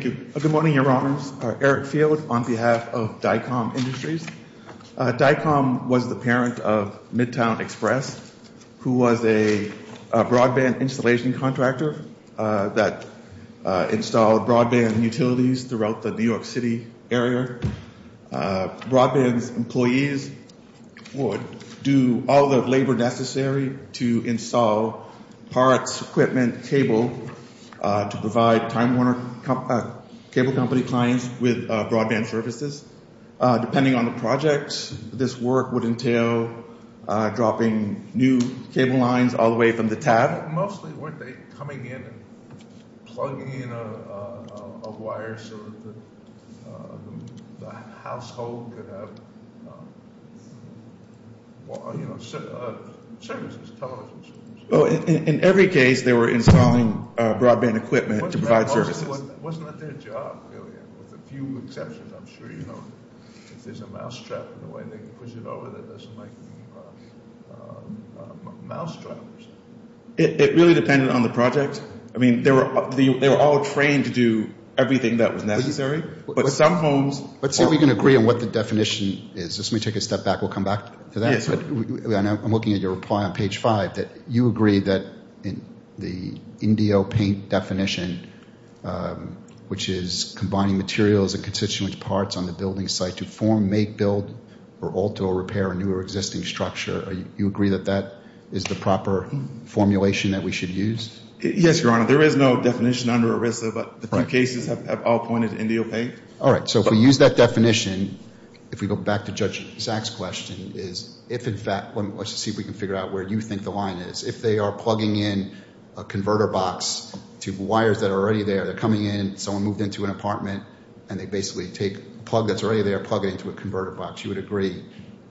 Good morning, Your Honors. Eric Field on behalf of Dicom Industries. Dicom was the parent of Midtown Express, who was a broadband installation contractor that installed broadband utilities throughout the New York City area. Broadband employees would do all the labor necessary to install parts, equipment, cable, to provide Time Warner Cable Company clients with broadband services. Depending on the projects, this work would entail dropping new cable lines all the way from the tab. Mostly weren't they coming in and plugging in a wire so that the household could have services, television services? In every case, they were installing broadband equipment to provide services. Wasn't that their job, really? With a few exceptions, I'm sure you know. If there's a mousetrap in the way they push it over, it doesn't make a mousetrap. It really depended on the project. They were all trained to do everything that was necessary, but some homes... Let's see if we can agree on what the definition is. Let me take a step back. We'll come back to that. I'm looking at your reply on page 5. You agree that the Indio paint definition, which is combining materials and constituent parts on the building site to form, make, build, or alter or repair a new or existing structure, you agree that that is the proper formulation that we should use? Yes, Your Honor. There is no definition under ERISA, but the two cases have all pointed to Indio paint. All right. So if we use that definition, if we go back to Judge Zaks' question, is if in fact... Let's see if we can figure out where you think the line is. If they are plugging in a compartment and they basically take a plug that's already there, plug it into a converter box, you would agree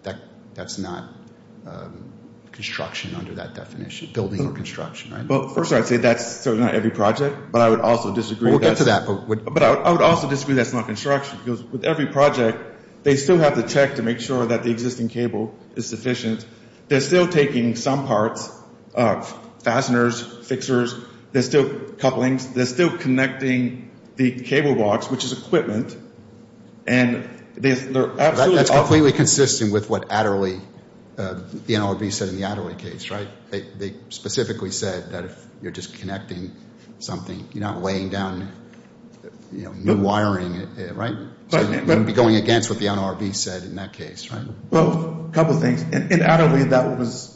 that that's not construction under that definition, building or construction, right? Well, first I'd say that's not every project, but I would also disagree... We'll get to that. But I would also disagree that's not construction, because with every project, they still have to check to make sure that the existing cable is sufficient. They're still taking some parts of fasteners, fixers, couplings, they're still connecting the cable box, which is equipment, and they're absolutely... That's completely consistent with what Adderley, the NLRB said in the Adderley case, right? They specifically said that if you're just connecting something, you're not laying down new wiring, right? So you wouldn't be going against what the NLRB said in that case, right? Well, a couple of things. In Adderley, that was...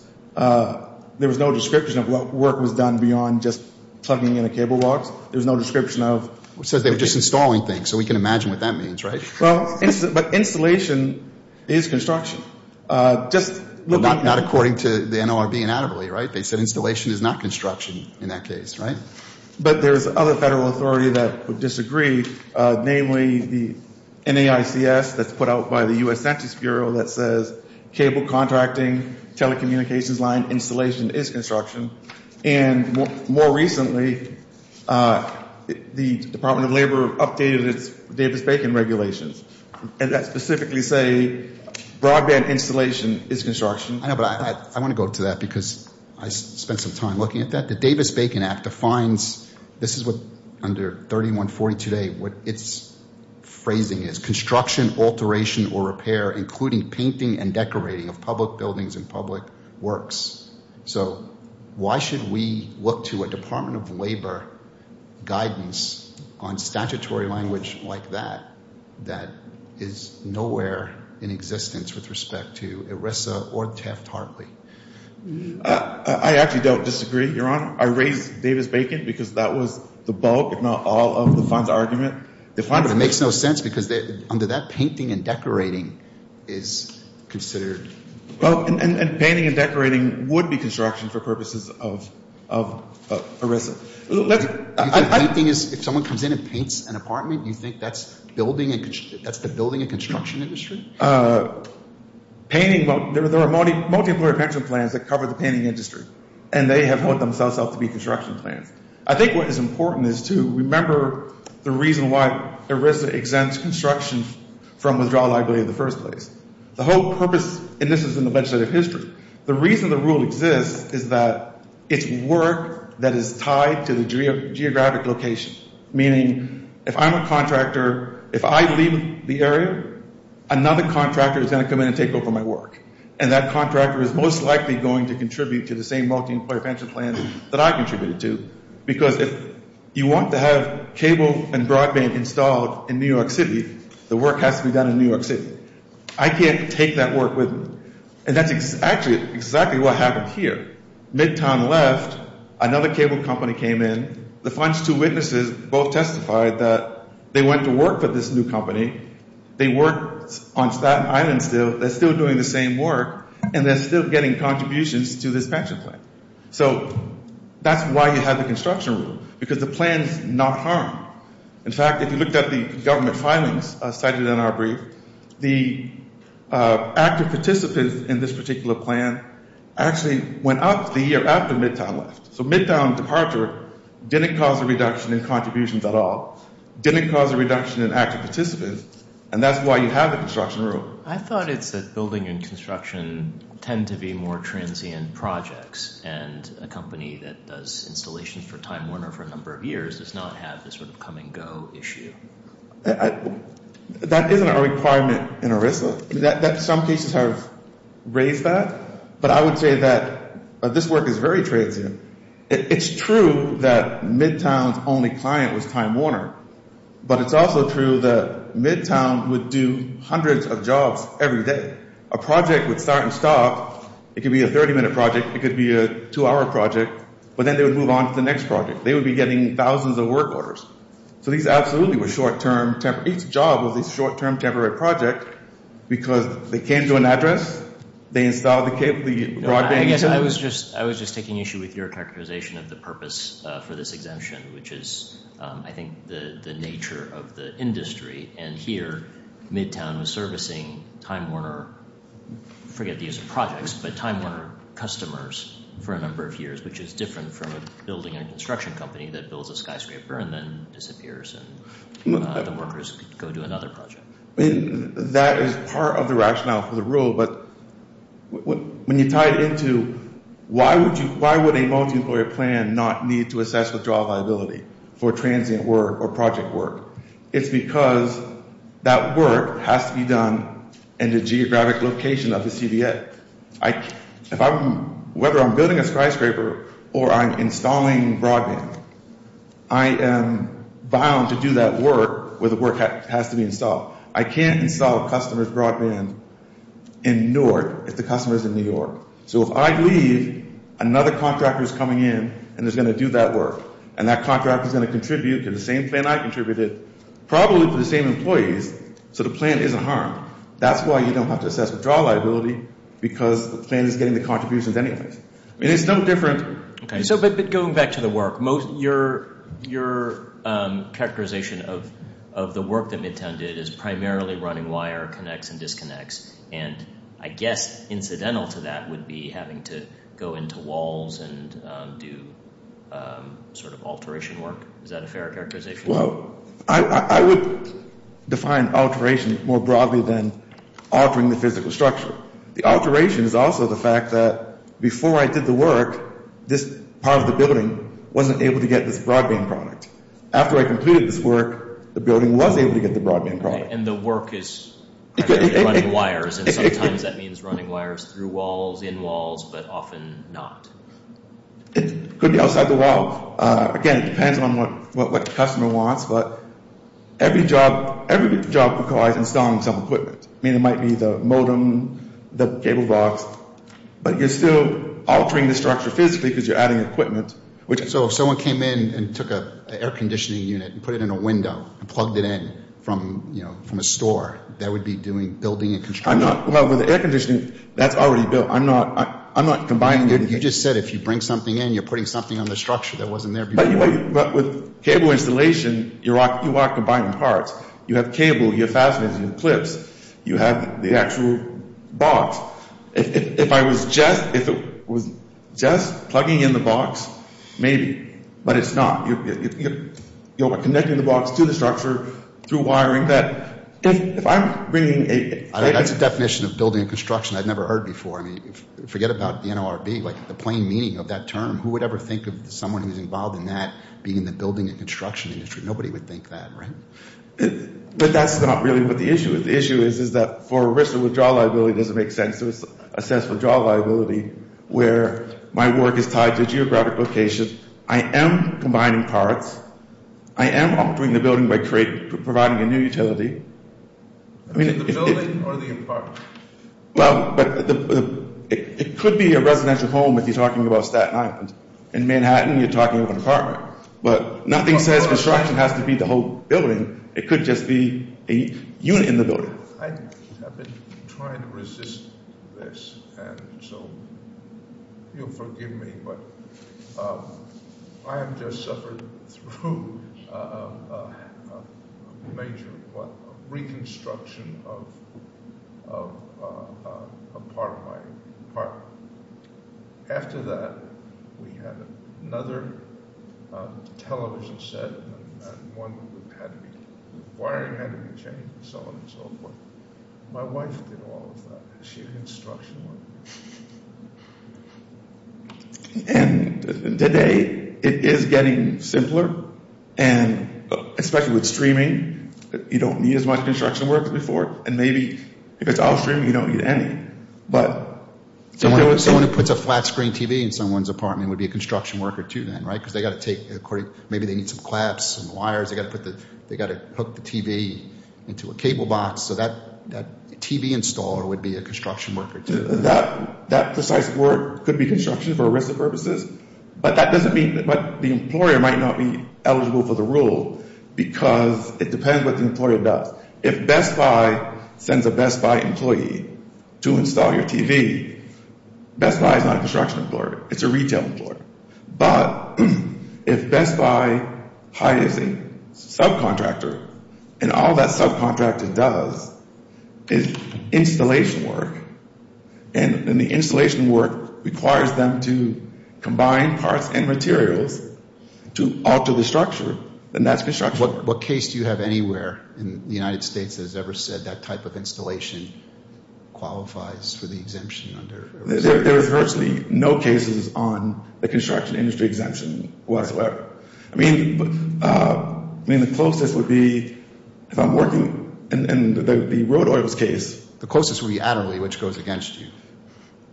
There was no description of what work was done beyond just plugging in a cable box. There was no description of... It says they were just installing things, so we can imagine what that means, right? Well, but installation is construction. Just looking... Not according to the NLRB in Adderley, right? They said installation is not construction in that case, right? But there's other federal authority that would disagree, namely the NAICS that's put out by the U.S. Census Bureau that says cable contracting, telecommunications line installation is construction. And more recently, the Department of Labor updated its Davis-Bacon regulations, and that specifically say broadband installation is construction. I know, but I want to go to that because I spent some time looking at that. The Davis-Bacon Act defines... This is what under 3140 today, what its phrasing is, construction, alteration, or repair, including painting and decorating of public buildings and public works. So why should we look to a Department of Labor guidance on statutory language like that that is nowhere in existence with respect to ERISA or TEFT-Hartley? I actually don't disagree, Your Honor. I raised Davis-Bacon because that was the bulk, if not all, of the argument. It makes no sense because under that, painting and decorating is considered... Well, and painting and decorating would be construction for purposes of ERISA. If someone comes in and paints an apartment, you think that's the building and construction industry? Painting, well, there are multi-employer pension plans that cover the painting industry, and they have held themselves out to be the reason why ERISA exempts construction from withdrawal liability in the first place. The whole purpose, and this is in the legislative history, the reason the rule exists is that it's work that is tied to the geographic location, meaning if I'm a contractor, if I leave the area, another contractor is going to come in and take over my work, and that contractor is most likely going to contribute to the same work. If I have cable and broadband installed in New York City, the work has to be done in New York City. I can't take that work with me. And that's exactly what happened here. Midtown left, another cable company came in, the funds to witnesses both testified that they went to work for this new company, they worked on Staten Island still, they're still doing the same work, and they're still getting contributions to this pension plan. So that's why you have the construction rule, because the plan's not harmed. In fact, if you looked at the government filings cited in our brief, the active participants in this particular plan actually went up the year after Midtown left. So Midtown departure didn't cause a reduction in contributions at all, didn't cause a reduction in active participants, and that's why you have the construction rule. I thought it's that building and construction tend to be more transient projects, and a company that does installations for Time Warner for a number of years does not have this sort of come and go issue. That isn't a requirement in ERISA. Some cases have raised that, but I would say that this work is very transient. It's true that Midtown's only client was Time Warner, but it's also true that Midtown would do hundreds of jobs every day. A project would start and stop, it could be a 30-minute project, it could be a two-hour project, but then they would move on to the next project. They would be getting thousands of work orders. So these absolutely were short-term, temporary, each job was a short-term, temporary project because they came to an address, they installed the broadband. I guess I was just taking issue with your characterization of the purpose for this exemption, which is, I think, the nature of the industry, and here, Midtown was servicing Time Warner, I forget the use of projects, but Time Warner customers for a number of years, which is different from a building and construction company that builds a skyscraper and then disappears and the workers go do another project. That is part of the rationale for the rule, but when you tie it into why would a multi-employer plan not need to assess withdrawal liability for transient work or project work? It's because that work has to be done in the geographic location of the CDA. Whether I'm building a skyscraper or I'm installing broadband, I am bound to do that work where the work has to be installed. I can't install a customer's broadband in Newark if the customer is in New York. So if I leave, another contractor is coming in and is going to do that work, and that contractor is going to contribute to the same plan I contributed, probably to the same employees, so the plan isn't harmed. That's why you don't have to assess withdrawal liability, because the plan is getting the contributions anyways. It's no different. Okay, so but going back to the work, your characterization of the work that Midtown did is primarily running wire, connects and disconnects, and I guess incidental to that would be having to go into walls and do sort of alteration work. Is that a fair characterization? I would define alteration more broadly than altering the physical structure. The alteration is also the fact that before I did the work, this part of the building wasn't able to get this broadband product. After I completed this work, the building was able to get the broadband product. And the work is primarily running wires, and sometimes that means running wires through walls, in walls, but often not. It could be outside the wall. Again, it depends on what the customer wants, but every job requires installing some equipment. I mean, it might be the modem, the cable box, but you're still altering the structure physically because you're adding equipment, which So if someone came in and took an air conditioning unit and put it in a window and plugged it in from, you know, from a store, that would be doing building and I'm not combining. You just said if you bring something in, you're putting something on the structure that wasn't there before. But with cable installation, you are combining parts. You have cable, you have fasteners, you have clips, you have the actual box. If I was just, if it was just plugging in the box, maybe, but it's not. You're connecting the box to the structure through wiring that That's a definition of building and construction I've never heard before. I mean, forget about the NLRB, like the plain meaning of that term. Who would ever think of someone who's involved in that being in the building and construction industry? Nobody would think that, right? But that's not really what the issue is. The issue is, is that for a risk of withdrawal liability, it doesn't make sense to assess withdrawal liability where my work is tied to geographic location. I am combining parts. I am altering the building by providing a new utility. The building or the apartment? Well, it could be a residential home if you're talking about Staten Island. In Manhattan, you're talking about an apartment. But nothing says construction has to be the whole building. It could just be a unit in the building. I have been trying to resist this, and so you'll forgive me, but I have just suffered through a major reconstruction of a part of my apartment. After that, we had another television set, and one had to be, the wiring had to be changed, and so on and so forth. My wife did all of that. She did construction work. And today, it is getting simpler, and especially with streaming, you don't need as much construction work as before, and maybe if it's off stream, you don't need any. Someone who puts a flat screen TV in someone's apartment would be a construction worker, too, then, right? Because they've got to take, maybe they need some clamps and wires. They've got to hook the TV into a cable box. So that TV installer would be a construction worker, too. That precise work could be construction for arrested purposes, but the employer might not be eligible for the rule because it depends what the employer does. If Best Buy sends a Best Buy employee to install your TV, Best Buy is not a construction employer. It's a retail employer. But if Best Buy hires a subcontractor, and all that subcontractor does is installation work, and the installation work requires them to combine parts and materials to alter the structure, then that's construction. What case do you have anywhere in the United States that has ever said that type of installation qualifies for the exemption? There is virtually no cases on the construction industry exemption whatsoever. I mean, the closest would be if I'm working in the road oils case. The closest would be Adderley, which goes against you.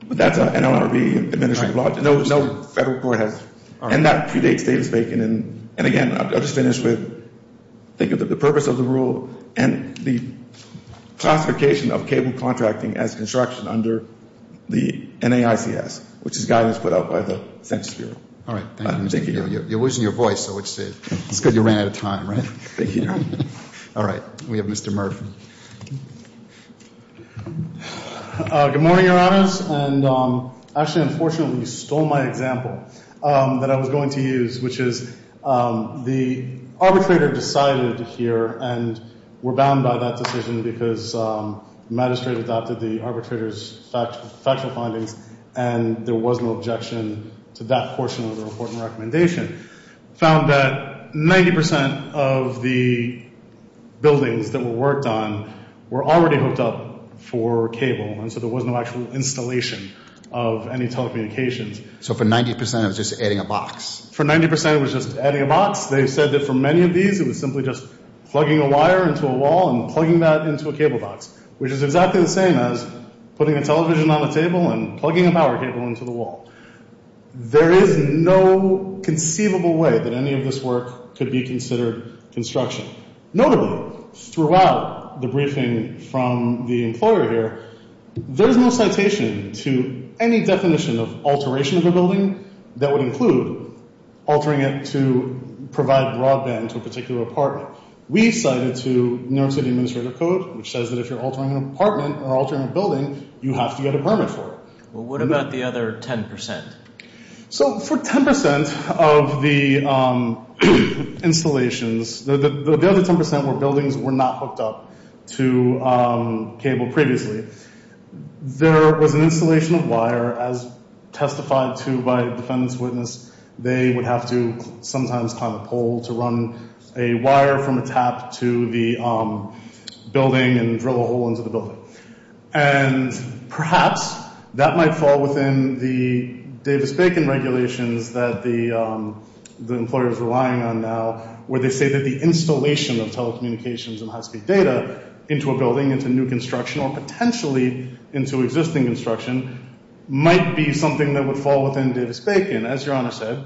But that's an NLRB administrative logic. No federal court has. And that predates Davis-Bacon. And again, I'll just finish with think of the purpose of the rule and the classification of cable contracting as construction under the NAICS, which is guidance put out by the Census Bureau. All right. Thank you. You're losing your voice, so it's good you ran out of time, right? Thank you. All right. We have Mr. Murphy. Good morning, Your Honors. And actually, unfortunately, you stole my example that I was going to use, which is the arbitrator decided here and were bound by that decision because the magistrate adopted the arbitrator's factual findings, and there was no objection to that portion of the report and recommendation. Found that 90% of the buildings that were worked on were already hooked up for cable, and so there was no actual installation of any telecommunications. So for 90%, it was just adding a box? For 90%, it was just adding a box. They said that for many of these, it was simply just plugging a wire into a wall and plugging that into a cable box, which is exactly the same as putting a television on a table and plugging a power cable into the wall. There is no conceivable way that any of this work could be considered construction. Notably, throughout the briefing from the employer here, there is no citation to any definition of alteration of a building that would include altering it to provide broadband to a particular apartment. We cited to New York City Administrative Code, which says that if you're altering an apartment or altering a building, you have to get a permit for it. Well, what about the other 10%? So for 10% of the installations, the other 10% were buildings that were not hooked up to cable previously. There was an installation of wire, as testified to by a defendant's witness. They would have to sometimes climb a pole to run a wire from a tap to the building and drill a hole into the building. And perhaps that might fall within the Davis-Bacon regulations that the employer is relying on now, where they say that the installation of telecommunications and high-speed data into a building, into new construction, or potentially into existing construction, might be something that would fall within Davis-Bacon. As Your Honor said,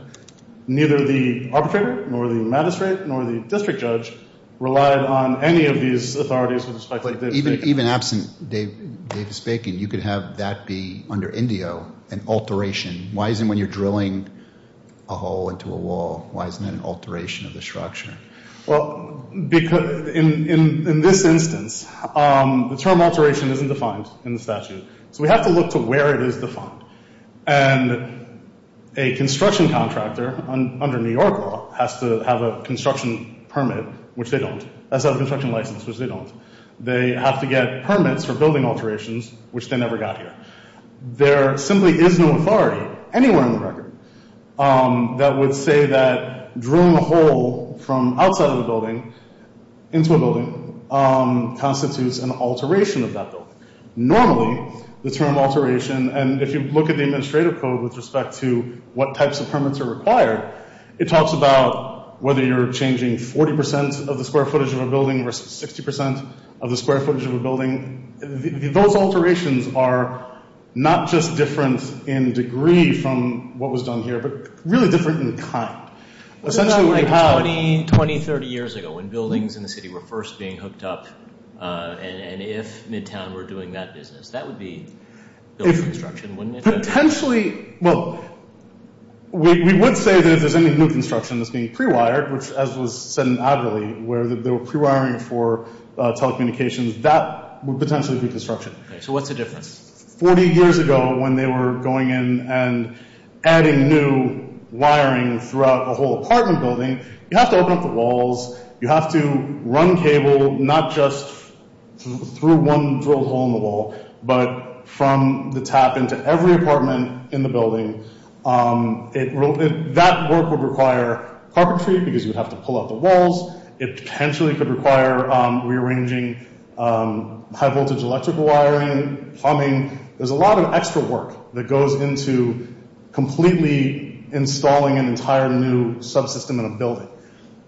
neither the arbitrator nor the magistrate nor the district judge relied on any of these authorities with respect to Davis-Bacon. But even absent Davis-Bacon, you could have that be, under Indio, an alteration. Why isn't when you're drilling a hole into a wall, why isn't that an alteration of the structure? Well, in this instance, the term alteration isn't defined in the statute. So we have to look to where it is defined. And a construction contractor under New York law has to have a construction permit, which they don't. They have to have a construction license, which they don't. They have to get permits for building alterations, which they never got here. There simply is no authority anywhere in the record that would say that drilling a hole from outside of a building into a building constitutes an alteration of that building. Normally, the term alteration, and if you look at the administrative code with respect to what types of permits are required, it talks about whether you're changing 40% of the square footage of a building versus 60% of the square footage of a building. Those alterations are not just different in degree from what was done here, but really different in kind. 20, 30 years ago, when buildings in the city were first being hooked up, and if Midtown were doing that business, that would be built for construction, wouldn't it? Potentially, well, we would say that if there's any new construction that's being pre-wired, which as was said in Adderley, where they were pre-wiring for telecommunications, that would potentially be construction. So what's the difference? 40 years ago, when they were going in and adding new wiring throughout a whole apartment building, you have to open up the walls. You have to run cable, not just through one drilled hole in the wall, but from the tap into every apartment in the building. That work would require carpentry because you would have to pull out the walls. It potentially could require rearranging high-voltage electrical wiring, plumbing. There's a lot of extra work that goes into completely installing an entire new subsystem in a building.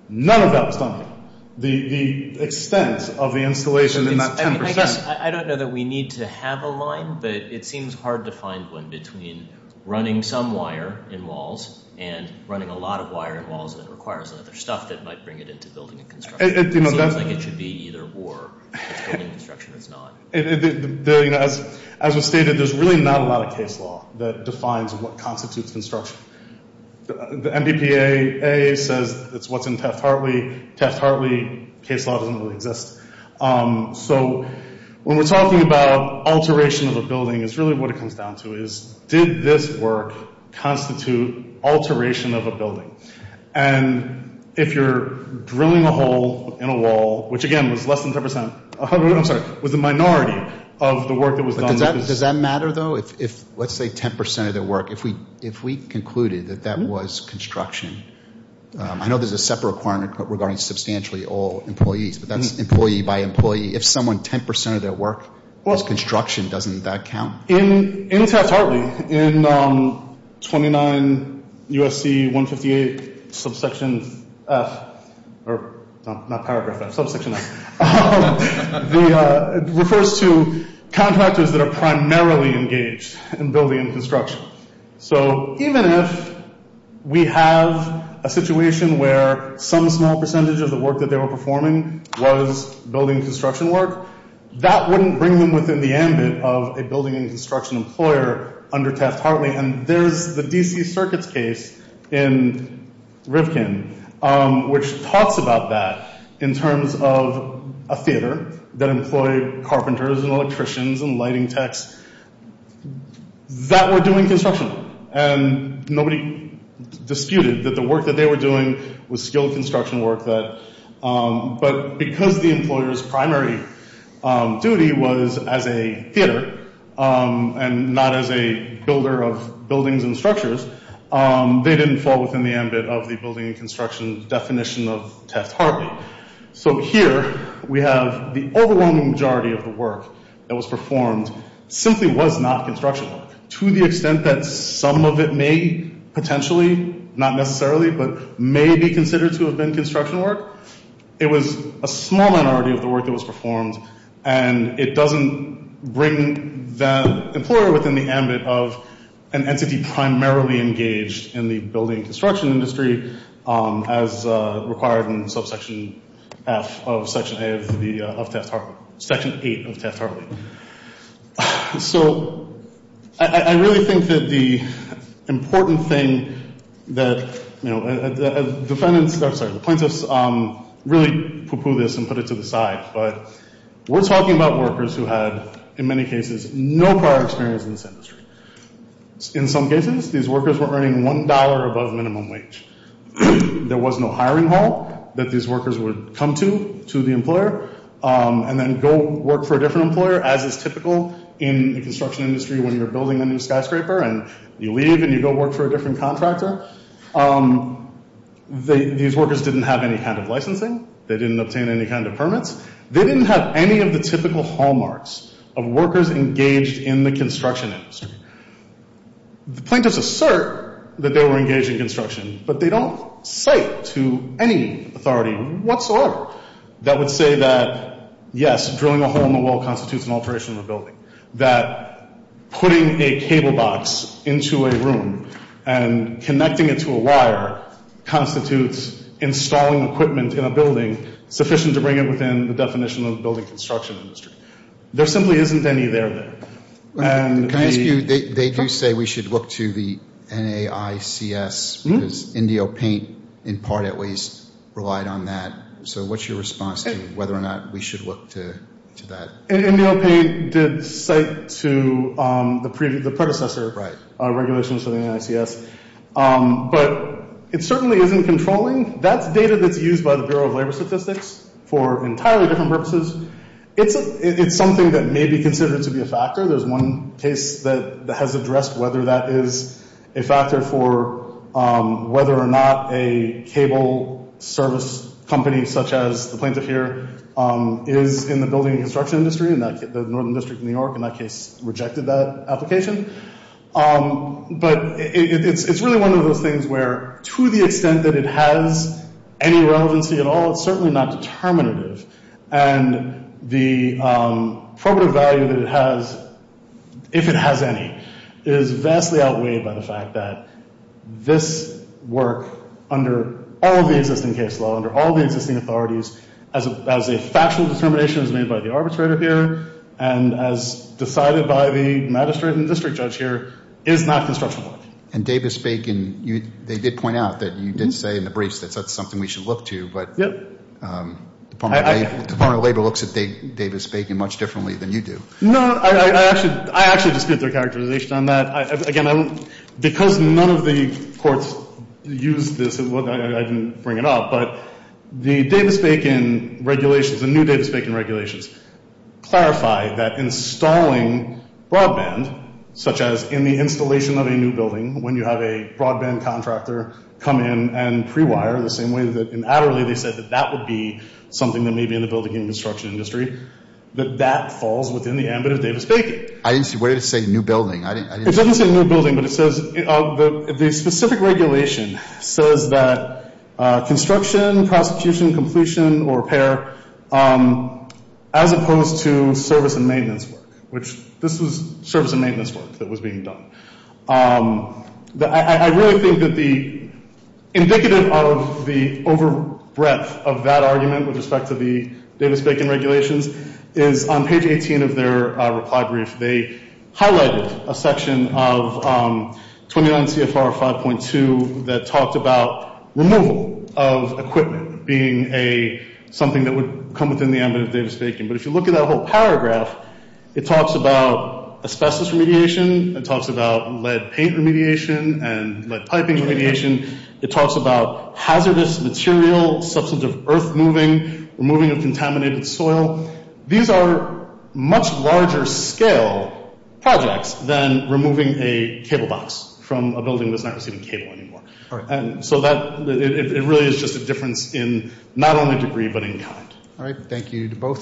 None of that was done here. The extent of the installation in that 10%— I guess I don't know that we need to have a line, but it seems hard to find one between running some wire in walls and running a lot of wire in walls that requires other stuff that might bring it into building and construction. It seems like it should be either or. It's building and construction or it's not. As was stated, there's really not a lot of case law that defines what constitutes construction. The MBPA says it's what's in Taft-Hartley. Taft-Hartley case law doesn't really exist. When we're talking about alteration of a building, it's really what it comes down to. Did this work constitute alteration of a building? If you're drilling a hole in a wall, which again was less than 10%—I'm sorry, was a minority of the work that was done— Does that matter, though? Let's say 10% of the work, if we concluded that that was construction— I know there's a separate requirement regarding substantially all employees, but that's employee by employee. If someone—10% of their work was construction, doesn't that count? In Taft-Hartley, in 29 U.S.C. 158, subsection F—not paragraph F, subsection F— it refers to contractors that are primarily engaged in building and construction. So even if we have a situation where some small percentage of the work that they were performing was building and construction work, that wouldn't bring them within the ambit of a building and construction employer under Taft-Hartley. And there's the D.C. Circuits case in Rivkin, which talks about that in terms of a theater that employed carpenters and electricians and lighting techs. That were doing construction. And nobody disputed that the work that they were doing was skilled construction work, but because the employer's primary duty was as a theater and not as a builder of buildings and structures, they didn't fall within the ambit of the building and construction definition of Taft-Hartley. So here we have the overwhelming majority of the work that was performed simply was not construction work, to the extent that some of it may potentially, not necessarily, but may be considered to have been construction work. It was a small minority of the work that was performed, and it doesn't bring the employer within the ambit of an entity primarily engaged in the building and construction industry as required in subsection F of section A of Taft-Hartley, section 8 of Taft-Hartley. So I really think that the important thing that, you know, the plaintiffs really poo-poo this and put it to the side, but we're talking about workers who had, in many cases, no prior experience in this industry. In some cases, these workers were earning $1 above minimum wage. There was no hiring hall that these workers would come to, to the employer, and then go work for a different employer as is typical in the construction industry when you're building a new skyscraper, and you leave and you go work for a different contractor. These workers didn't have any kind of licensing. They didn't obtain any kind of permits. They didn't have any of the typical hallmarks of workers engaged in the construction industry. The plaintiffs assert that they were engaged in construction, but they don't cite to any authority whatsoever that would say that, yes, drilling a hole in the wall constitutes an alteration of a building, that putting a cable box into a room and connecting it to a wire constitutes installing equipment in a building sufficient to bring it within the definition of the building construction industry. There simply isn't any there. Can I ask you, they do say we should look to the NAICS, because IndioPaint, in part at least, relied on that. So what's your response to whether or not we should look to that? IndioPaint did cite to the predecessor regulations for the NAICS, but it certainly isn't controlling. That's data that's used by the Bureau of Labor Statistics for entirely different purposes. It's something that may be considered to be a factor. There's one case that has addressed whether that is a factor for whether or not a cable service company, such as the plaintiff here, is in the building construction industry, and the Northern District of New York in that case rejected that application. But it's really one of those things where, to the extent that it has any relevancy at all, it's certainly not determinative. And the probative value that it has, if it has any, is vastly outweighed by the fact that this work, under all of the existing case law, under all of the existing authorities, as a factual determination as made by the arbitrator here and as decided by the magistrate and district judge here, is not construction work. And Davis-Bacon, they did point out that you did say in the briefs that that's something we should look to, but the Department of Labor looks at Davis-Bacon much differently than you do. No, I actually dispute their characterization on that. Again, because none of the courts used this, I didn't bring it up. But the Davis-Bacon regulations, the new Davis-Bacon regulations, clarify that installing broadband, such as in the installation of a new building, when you have a broadband contractor come in and pre-wire, the same way that in Adderley they said that that would be something that may be in the building and construction industry, that that falls within the ambit of Davis-Bacon. I didn't see. What did it say, new building? It doesn't say new building, but it says the specific regulation says that construction, prosecution, completion, or repair, as opposed to service and maintenance work, which this was service and maintenance work that was being done. I really think that the indicative of the over breadth of that argument with respect to the Davis-Bacon regulations is on page 18 of their reply brief, they highlighted a section of 29 CFR 5.2 that talked about removal of equipment being something that would come within the ambit of Davis-Bacon. But if you look at that whole paragraph, it talks about asbestos remediation. It talks about lead paint remediation and lead piping remediation. It talks about hazardous material, substance of earth moving, removing of contaminated soil. These are much larger scale projects than removing a cable box from a building that's not receiving cable anymore. So it really is just a difference in not only degree, but in kind. All right. Thank you to both of you.